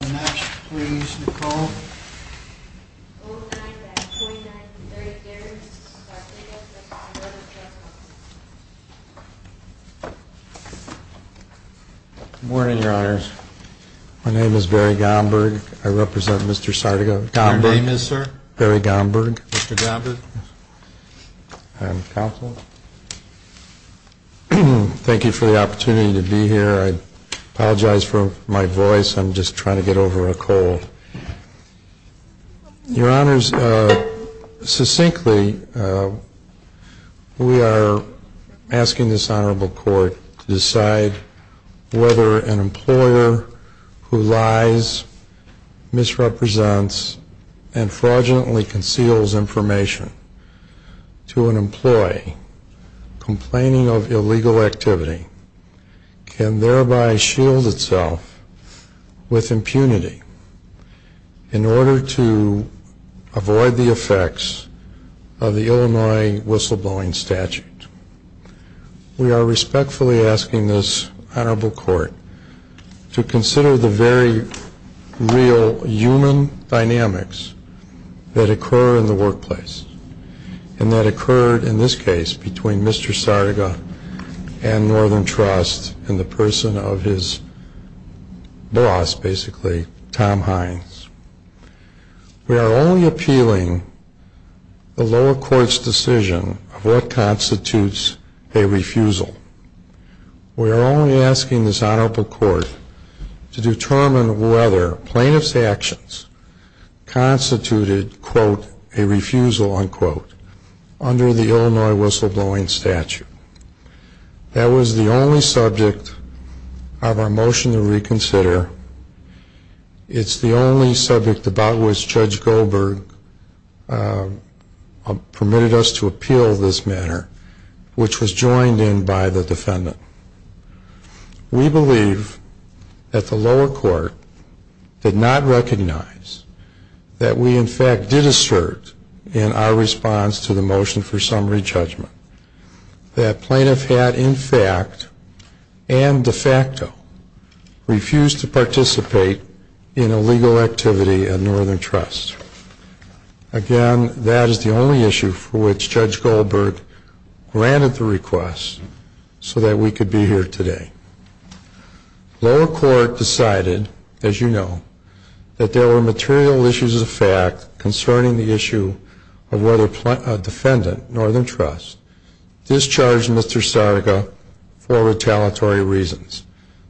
Good morning, your honors. My name is Barry Gomburg. I represent Mr. Sardiga. Gomburg. Your name is, sir? Barry Gomburg. Mr. Gomburg. Thank you for the opportunity to be here. I apologize for my voice. I'm just trying to get over a cold. Your honors, succinctly, we are asking this honorable court to decide whether an employer who lies, misrepresents, and fraudulently conceals information to an employee, complaining of illegal activity, can thereby shield itself with impunity in order to avoid the effects of the Illinois whistleblowing statute. We are respectfully asking this honorable court to consider the very real human dynamics that occur in the workplace. And that occurred, in this case, between Mr. Sardiga and Northern Trust and the person of his boss, basically, Tom Hines. We are only appealing the lower court's decision of what constitutes a refusal. We are only asking this honorable court to determine whether plaintiff's actions constituted, quote, a refusal, unquote, under the Illinois whistleblowing statute. That was the only subject of our motion to reconsider. It's the only subject about which Judge Gomburg permitted us to appeal this matter, which was joined in by the defendant. We believe that the lower court did not recognize that we, in fact, did assert in our response to the motion for summary judgment that plaintiff had, in fact, and de facto, refused to participate in illegal activity at Northern Trust. Again, that is the only issue for which Judge Gomburg granted the request so that we could be here today. Lower court decided, as you know, that there were material issues of fact concerning the issue of whether defendant, Northern Trust, discharged Mr. Sardiga for retaliatory reasons.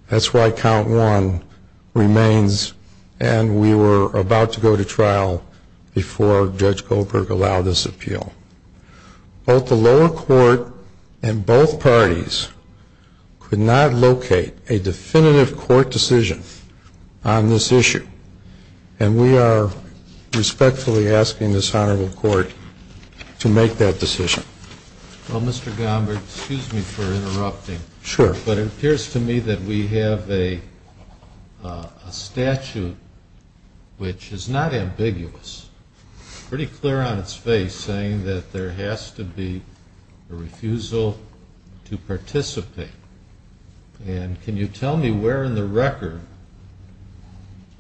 That's why count one remains, and we were about to go to trial before Judge Gomburg allowed this appeal. Both the lower court and both parties could not locate a definitive court decision on this issue, and we are respectfully asking this honorable court to make that decision. Well, Mr. Gomburg, excuse me for interrupting. Sure. But it appears to me that we have a statute which is not ambiguous. It's pretty clear on its face saying that there has to be a refusal to participate. And can you tell me where in the record,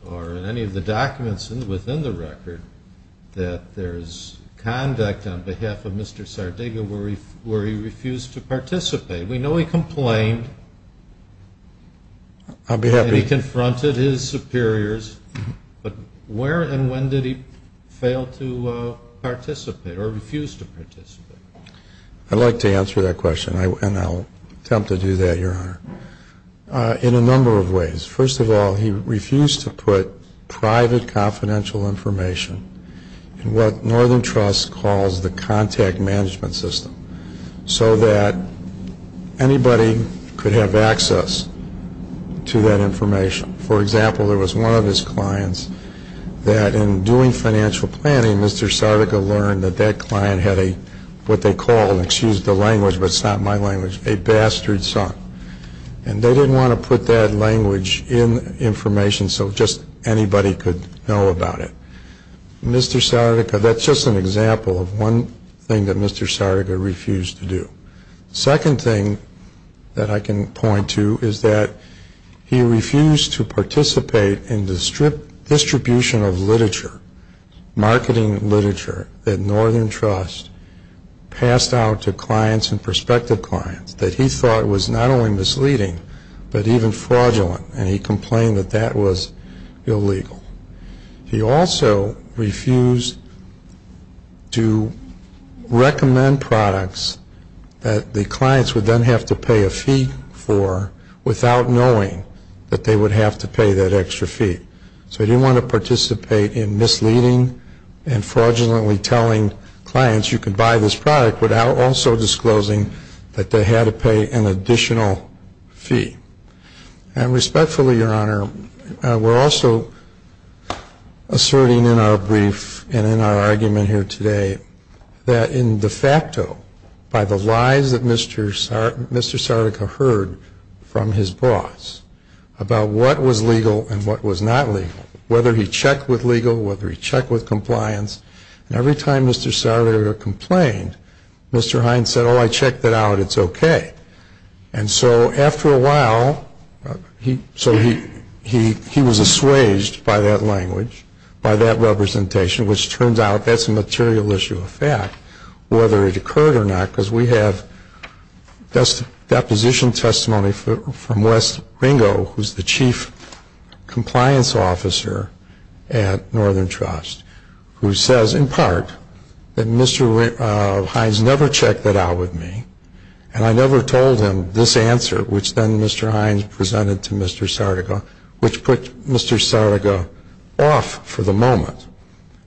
or in any of the documents within the record, that there is conduct on behalf of Mr. Sardiga where he refused to participate? We know he complained. I'll be happy. And he confronted his superiors. But where and when did he fail to participate or refuse to participate? I'd like to answer that question, and I'll attempt to do that, Your Honor, in a number of ways. First of all, he refused to put private confidential information in what Northern Trust calls the contact management system so that anybody could have access to that information. For example, there was one of his clients that in doing financial planning, Mr. Sardiga learned that that client had what they called, excuse the language, but it's not my language, a bastard son. And they didn't want to put that language in information so just anybody could know about it. Mr. Sardiga, that's just an example of one thing that Mr. Sardiga refused to do. The second thing that I can point to is that he refused to participate in distribution of literature, marketing literature that Northern Trust passed out to clients and prospective clients that he thought was not only misleading but even fraudulent, and he complained that that was illegal. He also refused to recommend products that the clients would then have to pay a fee for without knowing that they would have to pay that extra fee. So he didn't want to participate in misleading and fraudulently telling clients you can buy this product without also disclosing that they had to pay an additional fee. And respectfully, Your Honor, we're also asserting in our brief and in our argument here today that in de facto, by the lies that Mr. Sardiga heard from his boss about what was legal and what was not legal, whether he checked with legal, whether he checked with compliance, and every time Mr. Sardiga complained, Mr. Hines said, oh, I checked it out, it's okay. And so after a while, he was assuaged by that language, by that representation, which turns out that's a material issue of fact, whether it occurred or not, because we have deposition testimony from Wes Ringo, who's the chief compliance officer at Northern Trust, who says in part that Mr. Hines never checked that out with me, and I never told him this answer, which then Mr. Hines presented to Mr. Sardiga, which put Mr. Sardiga off for the moment.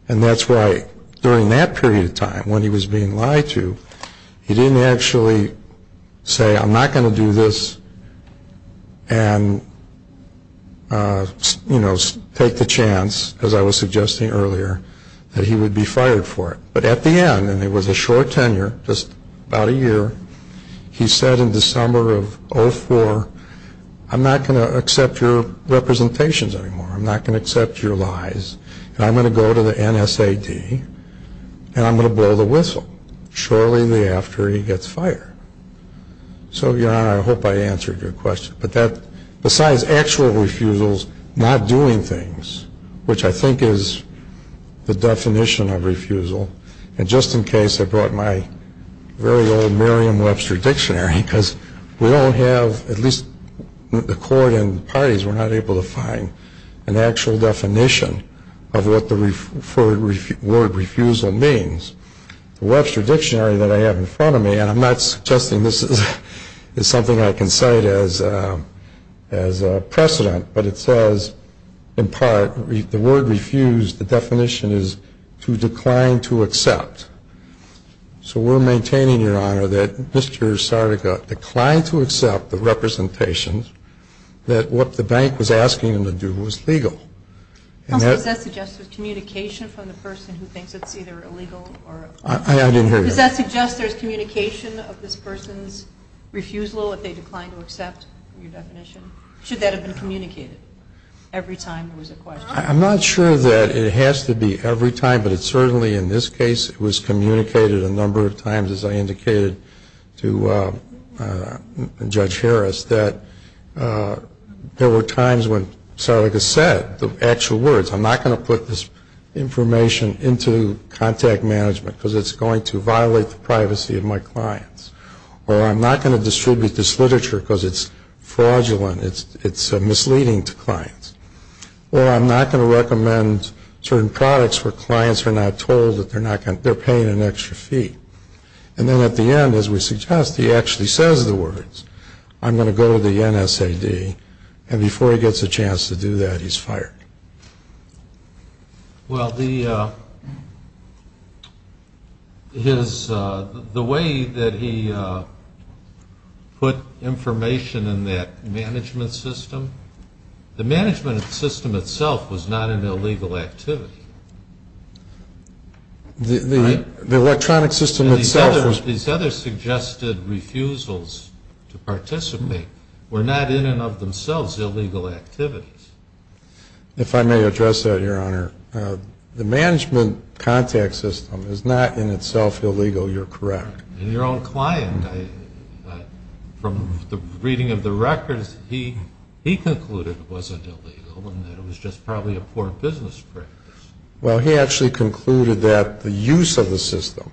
And that's why during that period of time when he was being lied to, he didn't actually say I'm not going to do this and take the chance, as I was suggesting earlier, that he would be fired for it. But at the end, and it was a short tenure, just about a year, he said in December of 2004, I'm not going to accept your representations anymore, I'm not going to accept your lies, and I'm going to go to the NSAD and I'm going to blow the whistle. Shortly thereafter, he gets fired. So, Your Honor, I hope I answered your question. But besides actual refusals, not doing things, which I think is the definition of refusal, and just in case I brought my very old Merriam-Webster dictionary, because we don't have, at least the court and the parties were not able to find an actual definition of what the word refusal means, the Webster dictionary that I have in front of me, and I'm not suggesting this is something I can cite as precedent, but it says, in part, the word refused, the definition is to decline to accept. So we're maintaining, Your Honor, that Mr. Sardica declined to accept the representations that what the bank was asking him to do was legal. Also, does that suggest there's communication from the person who thinks it's either illegal or not? I didn't hear you. Does that suggest there's communication of this person's refusal if they decline to accept your definition? Should that have been communicated every time there was a question? I'm not sure that it has to be every time, but it certainly, in this case, it was communicated a number of times, as I indicated to Judge Harris, that there were times when Sardica said the actual words, I'm not going to put this information into contact management because it's going to violate the privacy of my clients, or I'm not going to distribute this literature because it's fraudulent, it's misleading to clients, or I'm not going to recommend certain products where clients are not told that they're paying an extra fee. And then at the end, as we suggest, he actually says the words, I'm going to go to the NSAD, and before he gets a chance to do that, he's fired. Well, the way that he put information in that management system, the management system itself was not an illegal activity. These other suggested refusals to participate were not in and of themselves illegal activities. If I may address that, Your Honor, the management contact system is not in itself illegal, you're correct. And your own client, from the reading of the records, he concluded it wasn't illegal and that it was just probably a poor business practice. Well, he actually concluded that the use of the system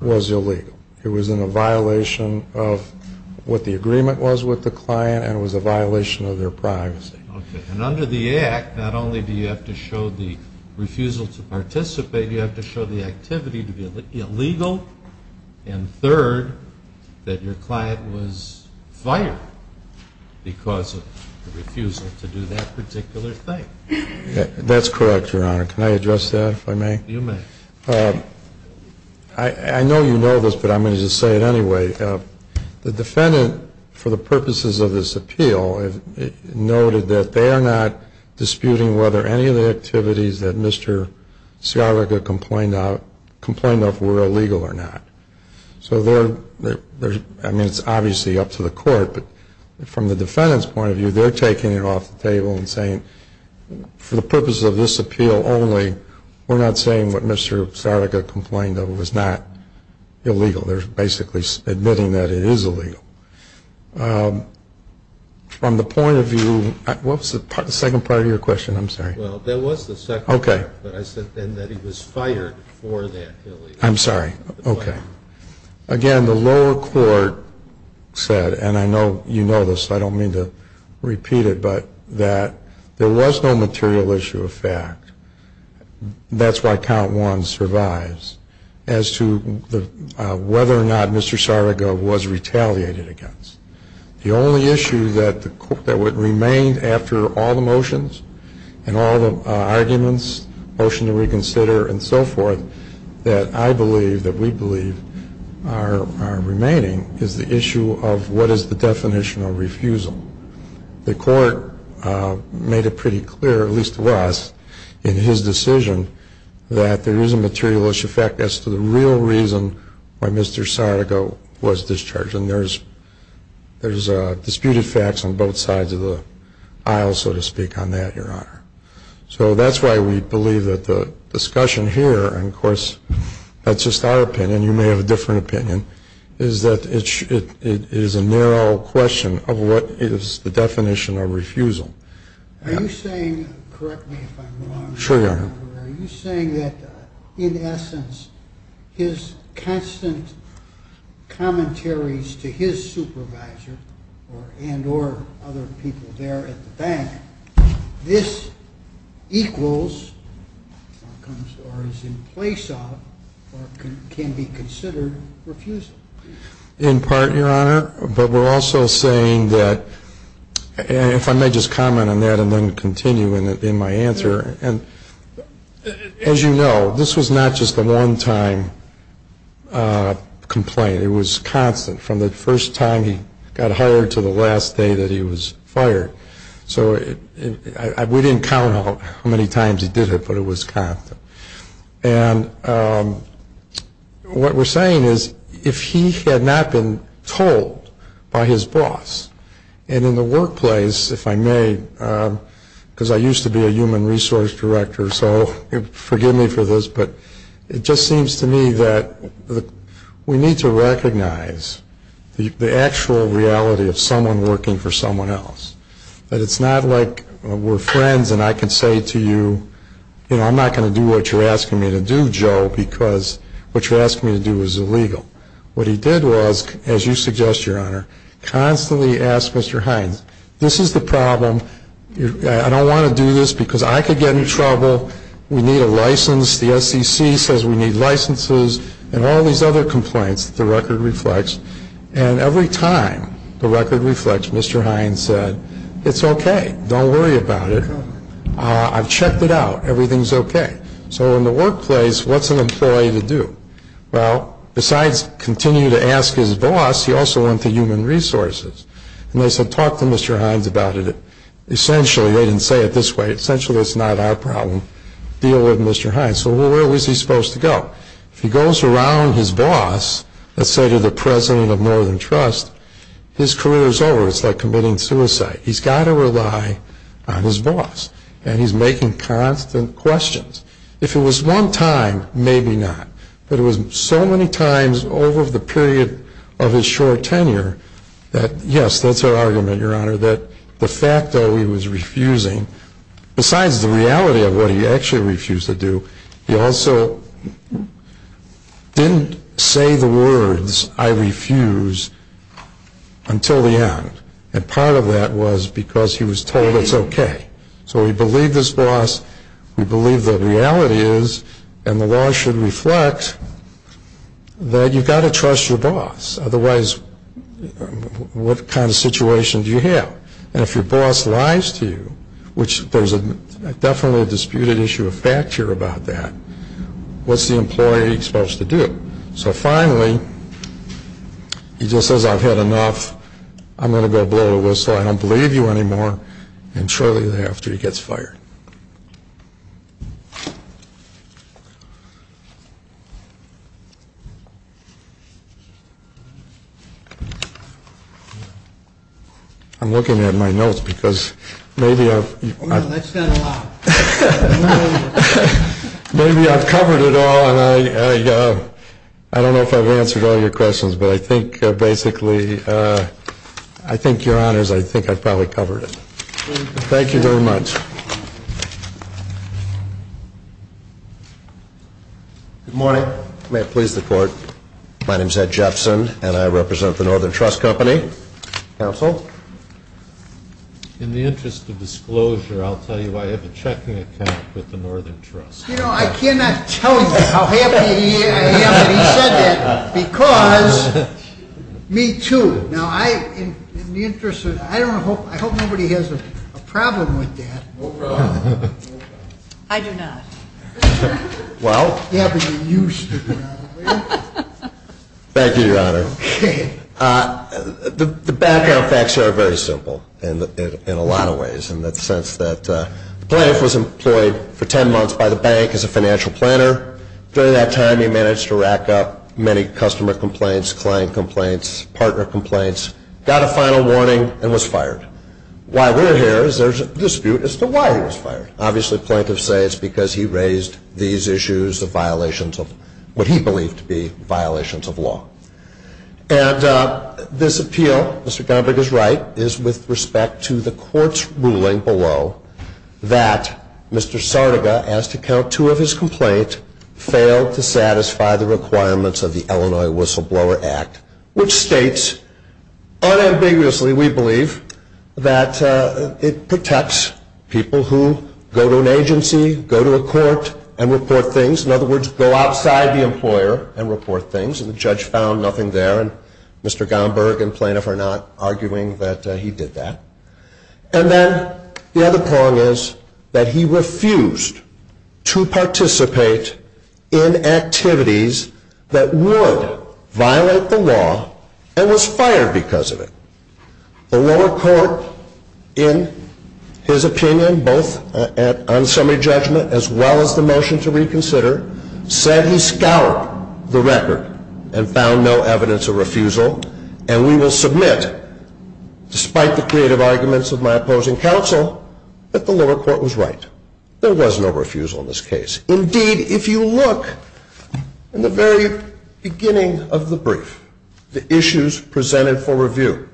was illegal. It was in a violation of what the agreement was with the client and it was a violation of their privacy. Okay. And under the Act, not only do you have to show the refusal to participate, you have to show the activity to be illegal, and third, that your client was fired because of the refusal to do that particular thing. That's correct, Your Honor. Can I address that, if I may? You may. I know you know this, but I'm going to just say it anyway. The defendant, for the purposes of this appeal, noted that they are not disputing whether any of the activities that Mr. Sciarica complained of were illegal or not. So they're, I mean, it's obviously up to the court, but from the defendant's point of view, they're taking it off the table and saying, for the purposes of this appeal only, we're not saying what Mr. Sciarica complained of was not illegal. They're basically admitting that it is illegal. From the point of view, what was the second part of your question? I'm sorry. Well, there was the second part, but I said then that he was fired for that illegal activity. I'm sorry. Okay. Again, the lower court said, and I know you know this, I don't mean to repeat it, but that there was no material issue of fact. That's why count one survives as to whether or not Mr. Sciarica was retaliated against. The only issue that would remain after all the motions and all the arguments, motion to reconsider and so forth, that I believe, that we believe are remaining, is the issue of what is the definition of refusal. The court made it pretty clear, at least to us, in his decision, that there is a material issue of fact as to the real reason why Mr. Sciarica was discharged. And there's disputed facts on both sides of the aisle, so to speak, on that, Your Honor. So that's why we believe that the discussion here, and, of course, that's just our opinion, you may have a different opinion, is that it is a narrow question of what is the definition of refusal. Are you saying, correct me if I'm wrong, Your Honor, are you saying that, in essence, his constant commentaries to his supervisor and or other people there at the bank, this equals or is in place of or can be considered refusal? In part, Your Honor. But we're also saying that, if I may just comment on that and then continue in my answer, as you know, this was not just a one-time complaint. It was constant from the first time he got hired to the last day that he was fired. So we didn't count how many times he did it, but it was constant. And what we're saying is, if he had not been told by his boss, and in the workplace, if I may, because I used to be a human resource director, so forgive me for this, but it just seems to me that we need to recognize the actual reality of someone working for someone else. That it's not like we're friends and I can say to you, you know, I'm not going to do what you're asking me to do, Joe, because what you're asking me to do is illegal. What he did was, as you suggest, Your Honor, constantly ask Mr. Hines, this is the problem, I don't want to do this because I could get in trouble, we need a license, the SEC says we need licenses, and all these other complaints that the record reflects. And every time the record reflects, Mr. Hines said, it's okay, don't worry about it. I've checked it out, everything's okay. So in the workplace, what's an employee to do? Well, besides continue to ask his boss, he also went to human resources. And they said talk to Mr. Hines about it. Essentially, they didn't say it this way, essentially it's not our problem, deal with Mr. Hines. So where was he supposed to go? If he goes around his boss, let's say to the president of Northern Trust, his career is over. It's like committing suicide. He's got to rely on his boss, and he's making constant questions. If it was one time, maybe not. But it was so many times over the period of his short tenure that, yes, that's our argument, Your Honor, that the fact that he was refusing, besides the reality of what he actually refused to do, he also didn't say the words, I refuse, until the end. And part of that was because he was told it's okay. So we believe this boss, we believe the reality is, and the law should reflect, that you've got to trust your boss. Otherwise, what kind of situation do you have? And if your boss lies to you, which there's definitely a disputed issue of fact here about that, what's the employee supposed to do? So finally, he just says, I've had enough, I'm going to go blow a whistle, I don't believe you anymore. And shortly thereafter, he gets fired. I'm looking at my notes because maybe I've covered it all, and I don't know if I've answered all your questions, but I think, basically, I think, Your Honors, I think I've probably covered it. Thank you very much. Good morning. May it please the Court. My name's Ed Jepson, and I represent the Northern Trust Company. Counsel. In the interest of disclosure, I'll tell you I have a checking account with the Northern Trust. You know, I cannot tell you how happy I am that he said that because me, too. Now, I, in the interest of, I don't know, I hope nobody has a problem with that. I do not. Thank you, Your Honor. The background facts here are very simple in a lot of ways. In the sense that the plaintiff was employed for 10 months by the bank as a financial planner. During that time, he managed to rack up many customer complaints, client complaints, partner complaints, got a final warning, and was fired. Why we're here is there's a dispute as to why he was fired. Obviously, plaintiffs say it's because he raised these issues of violations of what he believed to be violations of law. And this appeal, Mr. Gombrich is right, is with respect to the court's ruling below that Mr. Sardega, as to count two of his complaints, failed to satisfy the requirements of the Illinois Whistleblower Act, which states unambiguously, we believe, that it protects people who go to an agency, go to a court, and report things. In other words, go outside the employer and report things. And the judge found nothing there. And Mr. Gombrich and plaintiff are not arguing that he did that. And then the other prong is that he refused to participate in activities that would violate the law and was fired because of it. The lower court, in his opinion, both on summary judgment as well as the motion to reconsider, said he scoured the record and found no evidence of refusal. And we will submit, despite the creative arguments of my opposing counsel, that the lower court was right. There was no refusal in this case. Indeed, if you look in the very beginning of the brief, the issues presented for review,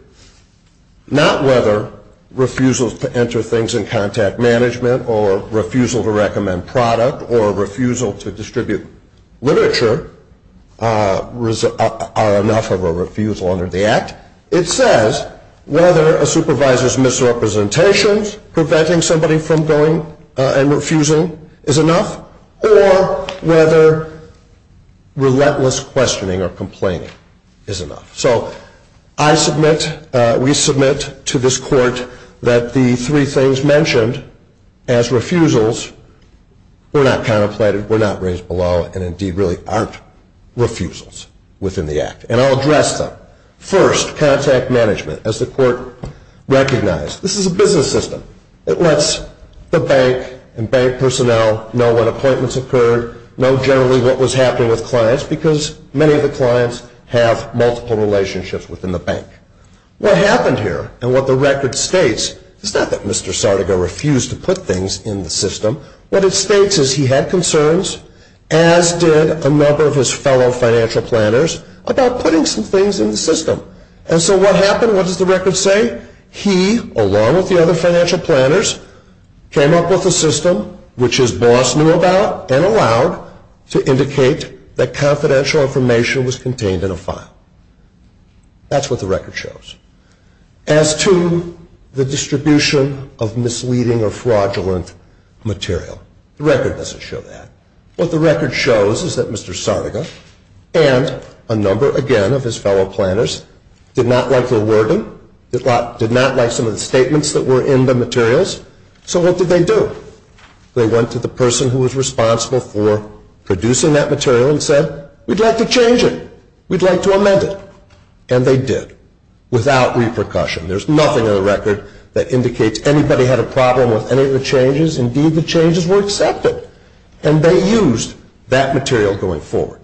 not whether refusals to enter things in contact management or refusal to recommend product or refusal to distribute literature are enough of a refusal under the Act. It says whether a supervisor's misrepresentations preventing somebody from going and refusing is enough or whether relentless questioning or complaining is enough. So I submit, we submit to this court, that the three things mentioned as refusals were not contemplated, were not raised below, and indeed really aren't refusals within the Act. And I'll address them. First, contact management. As the court recognized, this is a business system. It lets the bank and bank personnel know when appointments occurred, know generally what was happening with clients because many of the clients have multiple relationships within the bank. What happened here and what the record states is not that Mr. Sardega refused to put things in the system. What it states is he had concerns, as did a number of his fellow financial planners, about putting some things in the system. And so what happened? What does the record say? He, along with the other financial planners, came up with a system which his boss knew about and allowed to indicate that confidential information was contained in a file. That's what the record shows. As to the distribution of misleading or fraudulent material, the record doesn't show that. What the record shows is that Mr. Sardega and a number, again, of his fellow planners, did not like the wording, did not like some of the statements that were in the materials. So what did they do? They went to the person who was responsible for producing that material and said, we'd like to change it, we'd like to amend it. And they did, without repercussion. There's nothing in the record that indicates anybody had a problem with any of the changes. Indeed, the changes were accepted. And they used that material going forward.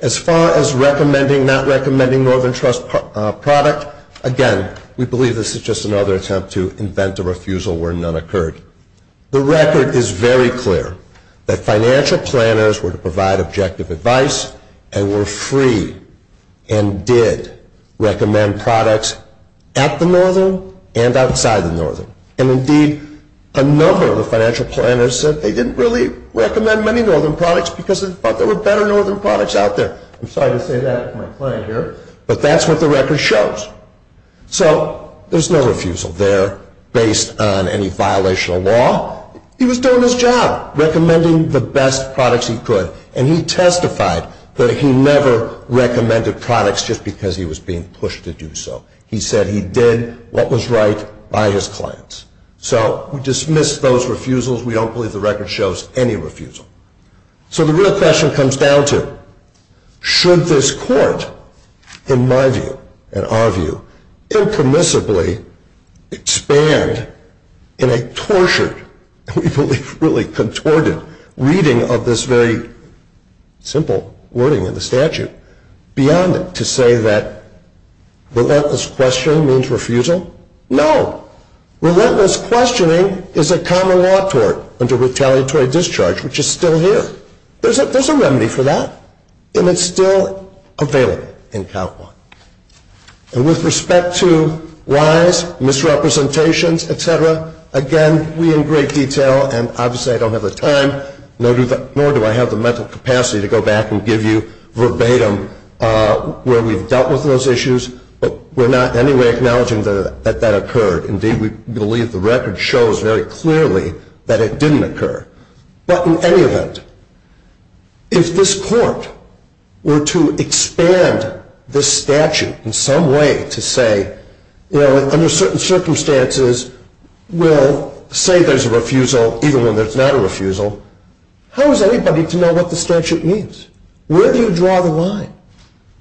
As far as recommending, not recommending Northern Trust product, again, we believe this is just another attempt to invent a refusal where none occurred. The record is very clear that financial planners were to provide objective advice and were free and did recommend products at the Northern and outside the Northern. And indeed, a number of the financial planners said they didn't really recommend many Northern products because they thought there were better Northern products out there. I'm sorry to say that with my client here, but that's what the record shows. So there's no refusal there based on any violation of law. He was doing his job, recommending the best products he could. And he testified that he never recommended products just because he was being pushed to do so. He said he did what was right by his clients. So we dismiss those refusals. We don't believe the record shows any refusal. So the real question comes down to, should this court, in my view, in our view, impermissibly expand in a tortured, we believe, really contorted reading of this very simple wording in the statute beyond it to say that relentless questioning means refusal? No. Relentless questioning is a common law tort under retaliatory discharge, which is still here. There's a remedy for that, and it's still available in Count 1. And with respect to lies, misrepresentations, et cetera, again, we in great detail, and obviously I don't have the time, nor do I have the mental capacity to go back and give you verbatim where we've dealt with those issues, but we're not in any way acknowledging that that occurred. Indeed, we believe the record shows very clearly that it didn't occur. But in any event, if this court were to expand this statute in some way to say, you know, under certain circumstances we'll say there's a refusal even when there's not a refusal, how is anybody to know what the statute means? Where do you draw the line?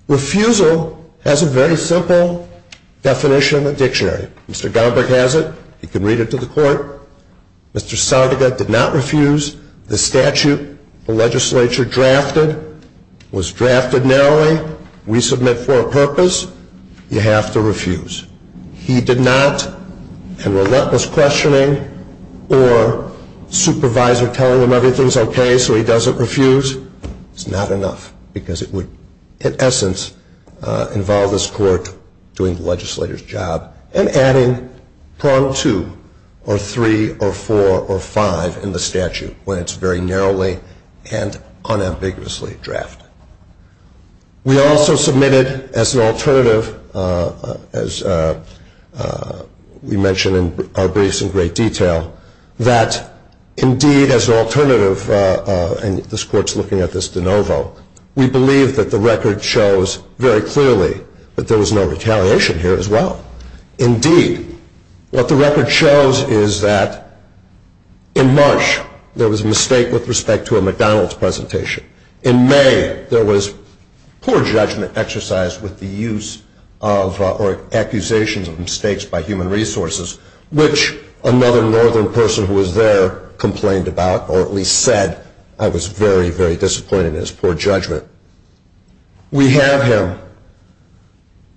Refusal has a very simple definition, a dictionary. Mr. Gomberg has it. He can read it to the court. Mr. Sautiga did not refuse. The statute the legislature drafted was drafted narrowly. We submit for a purpose. You have to refuse. He did not, and relentless questioning or supervisor telling him everything's okay so he doesn't refuse, it's not enough because it would, in essence, involve this court doing the legislator's job and adding prong two or three or four or five in the statute when it's very narrowly and unambiguously drafted. We also submitted as an alternative, as we mentioned in our briefs in great detail, that indeed as an alternative, and this court's looking at this de novo, we believe that the record shows very clearly that there was no retaliation here as well. Indeed, what the record shows is that in March there was a mistake with respect to a McDonald's presentation. In May there was poor judgment exercised with the use of or accusations of mistakes by human resources, which another northern person who was there complained about or at least said I was very, very disappointed in his poor judgment. We have him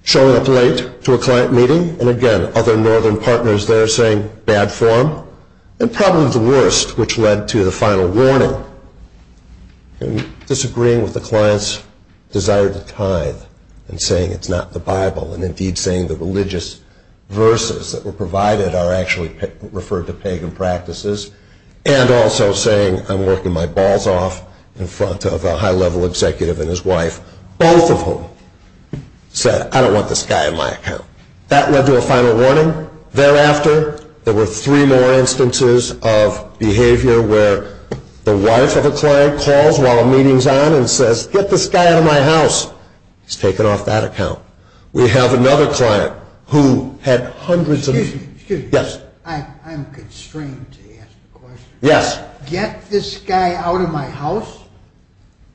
showing up late to a client meeting and again other northern partners there saying bad form and probably the worst, which led to the final warning and disagreeing with the client's desire to tithe and saying it's not the Bible and indeed saying the religious verses that were provided are actually referred to pagan practices and also saying I'm working my balls off in front of a high-level executive and his wife, both of whom said I don't want this guy in my account. That led to a final warning. Thereafter, there were three more instances of behavior where the wife of a client calls while a meeting's on and says get this guy out of my house. He's taken off that account. We have another client who had hundreds of... Excuse me. Yes. I'm constrained to ask the question. Yes. Get this guy out of my house?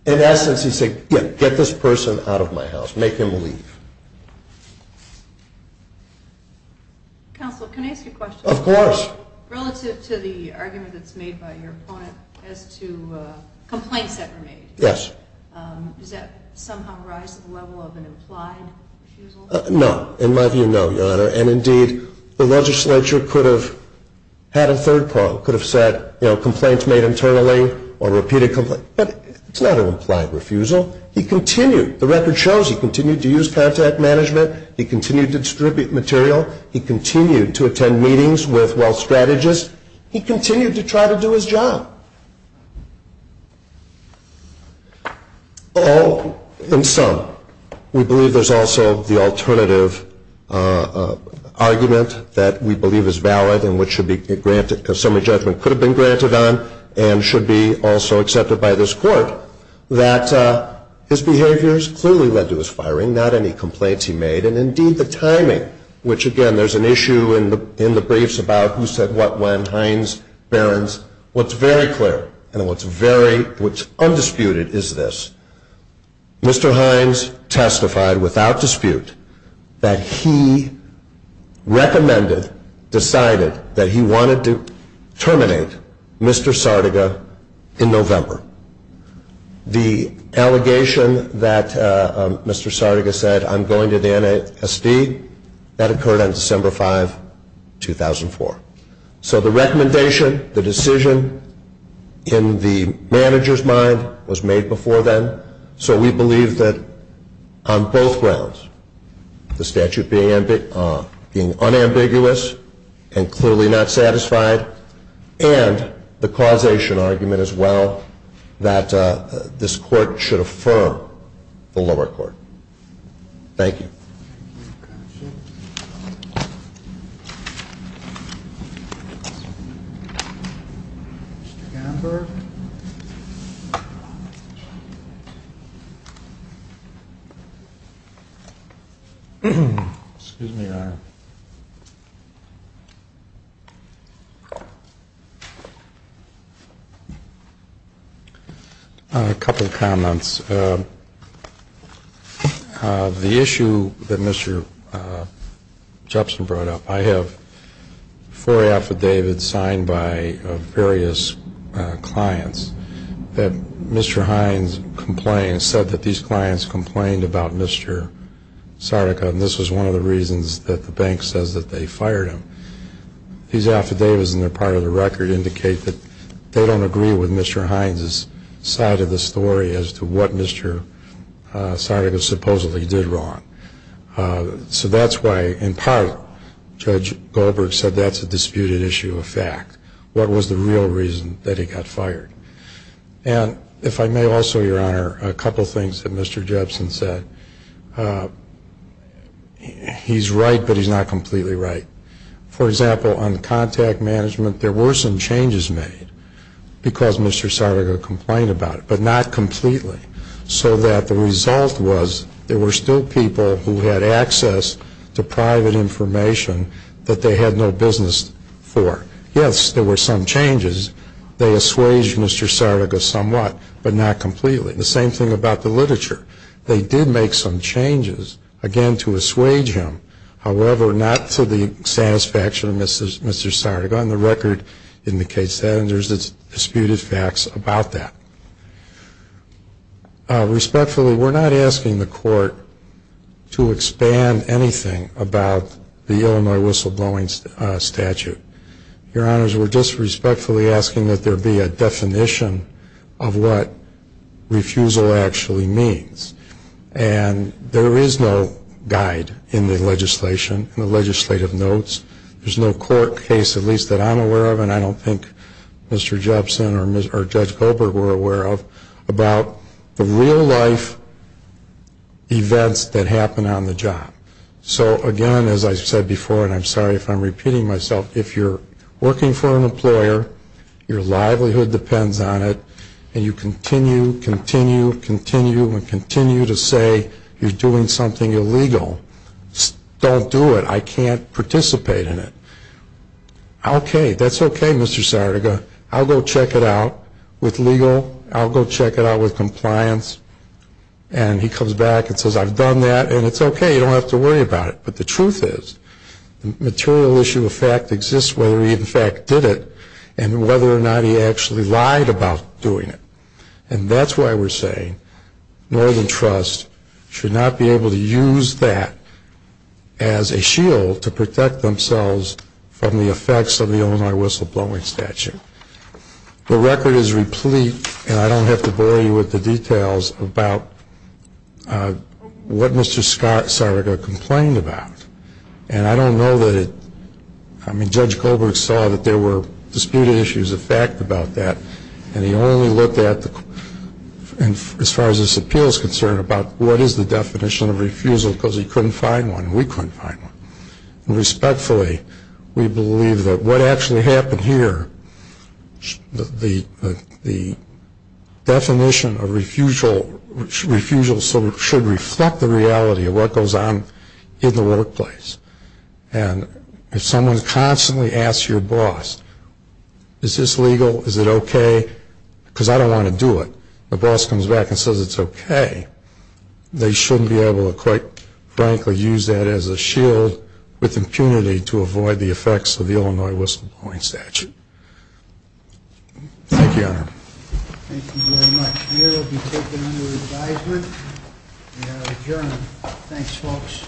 In essence, he's saying get this person out of my house, make him leave. Counsel, can I ask you a question? Of course. Relative to the argument that's made by your opponent as to complaints that were made. Yes. Does that somehow rise to the level of an implied refusal? No. In my view, no, Your Honor. And, indeed, the legislature could have had a third part. It could have said complaints made internally or repeated complaints. But it's not an implied refusal. He continued. The record shows he continued to use contact management. He continued to distribute material. He continued to attend meetings with wealth strategists. He continued to try to do his job. All in sum, we believe there's also the alternative argument that we believe is valid and which should be granted because summary judgment could have been granted on and should be also accepted by this court that his behaviors clearly led to his firing, not any complaints he made, and, indeed, the timing, which, again, there's an issue in the briefs about who said what when, Heinz, Behrens. What's very clear and what's undisputed is this. Mr. Heinz testified without dispute that he recommended, decided, that he wanted to terminate Mr. Sardega in November. The allegation that Mr. Sardega said, I'm going to the NSD, that occurred on December 5, 2004. So the recommendation, the decision in the manager's mind was made before then. So we believe that on both grounds, the statute being unambiguous and clearly not satisfied and the causation argument as well that this court should affirm the lower court. Thank you. Thank you, counsel. Mr. Gamberg. Excuse me, Your Honor. A couple comments. The issue that Mr. Jepson brought up, I have four affidavits signed by various clients that Mr. Heinz complained, said that these clients complained about Mr. Sardega, and this was one of the reasons that the bank says that they fired him. These affidavits in their part of the record indicate that they don't agree with Mr. Heinz's side of the story as to what Mr. Sardega supposedly did wrong. So that's why, in part, Judge Goldberg said that's a disputed issue of fact. What was the real reason that he got fired? And if I may also, Your Honor, a couple things that Mr. Jepson said. He's right, but he's not completely right. For example, on contact management, there were some changes made because Mr. Sardega complained about it, but not completely, so that the result was there were still people who had access to private information that they had no business for. Yes, there were some changes. They assuaged Mr. Sardega somewhat, but not completely. The same thing about the literature. They did make some changes, again, to assuage him, however, not to the satisfaction of Mr. Sardega. And the record indicates that, and there's disputed facts about that. Respectfully, we're not asking the court to expand anything about the Illinois whistleblowing statute. Your Honors, we're just respectfully asking that there be a definition of what refusal actually means. And there is no guide in the legislation, in the legislative notes. There's no court case, at least that I'm aware of, and I don't think Mr. Jepson or Judge Goldberg were aware of, about the real-life events that happen on the job. So, again, as I said before, and I'm sorry if I'm repeating myself, if you're working for an employer, your livelihood depends on it, and you continue, continue, continue, and continue to say you're doing something illegal, don't do it. I can't participate in it. Okay, that's okay, Mr. Sardega. I'll go check it out with legal. I'll go check it out with compliance. And he comes back and says, I've done that, and it's okay. You don't have to worry about it. But the truth is, the material issue of fact exists whether he in fact did it and whether or not he actually lied about doing it. And that's why we're saying Northern Trust should not be able to use that as a shield to protect themselves from the effects of the Illinois whistleblowing statute. The record is replete, and I don't have to bore you with the details about what Mr. Sardega complained about. And I don't know that it, I mean, Judge Goldberg saw that there were disputed issues of fact about that, and he only looked at, as far as this appeal is concerned, about what is the definition of refusal because he couldn't find one and we couldn't find one. And respectfully, we believe that what actually happened here, the definition of refusal should reflect the reality of what goes on in the workplace. And if someone constantly asks your boss, is this legal? Is it okay? Because I don't want to do it. The boss comes back and says it's okay. They shouldn't be able to quite frankly use that as a shield with impunity to avoid the effects of the Illinois whistleblowing statute. Thank you, Your Honor. Thank you very much. The hearing will be taken under advisement. We are adjourned. Thanks, folks.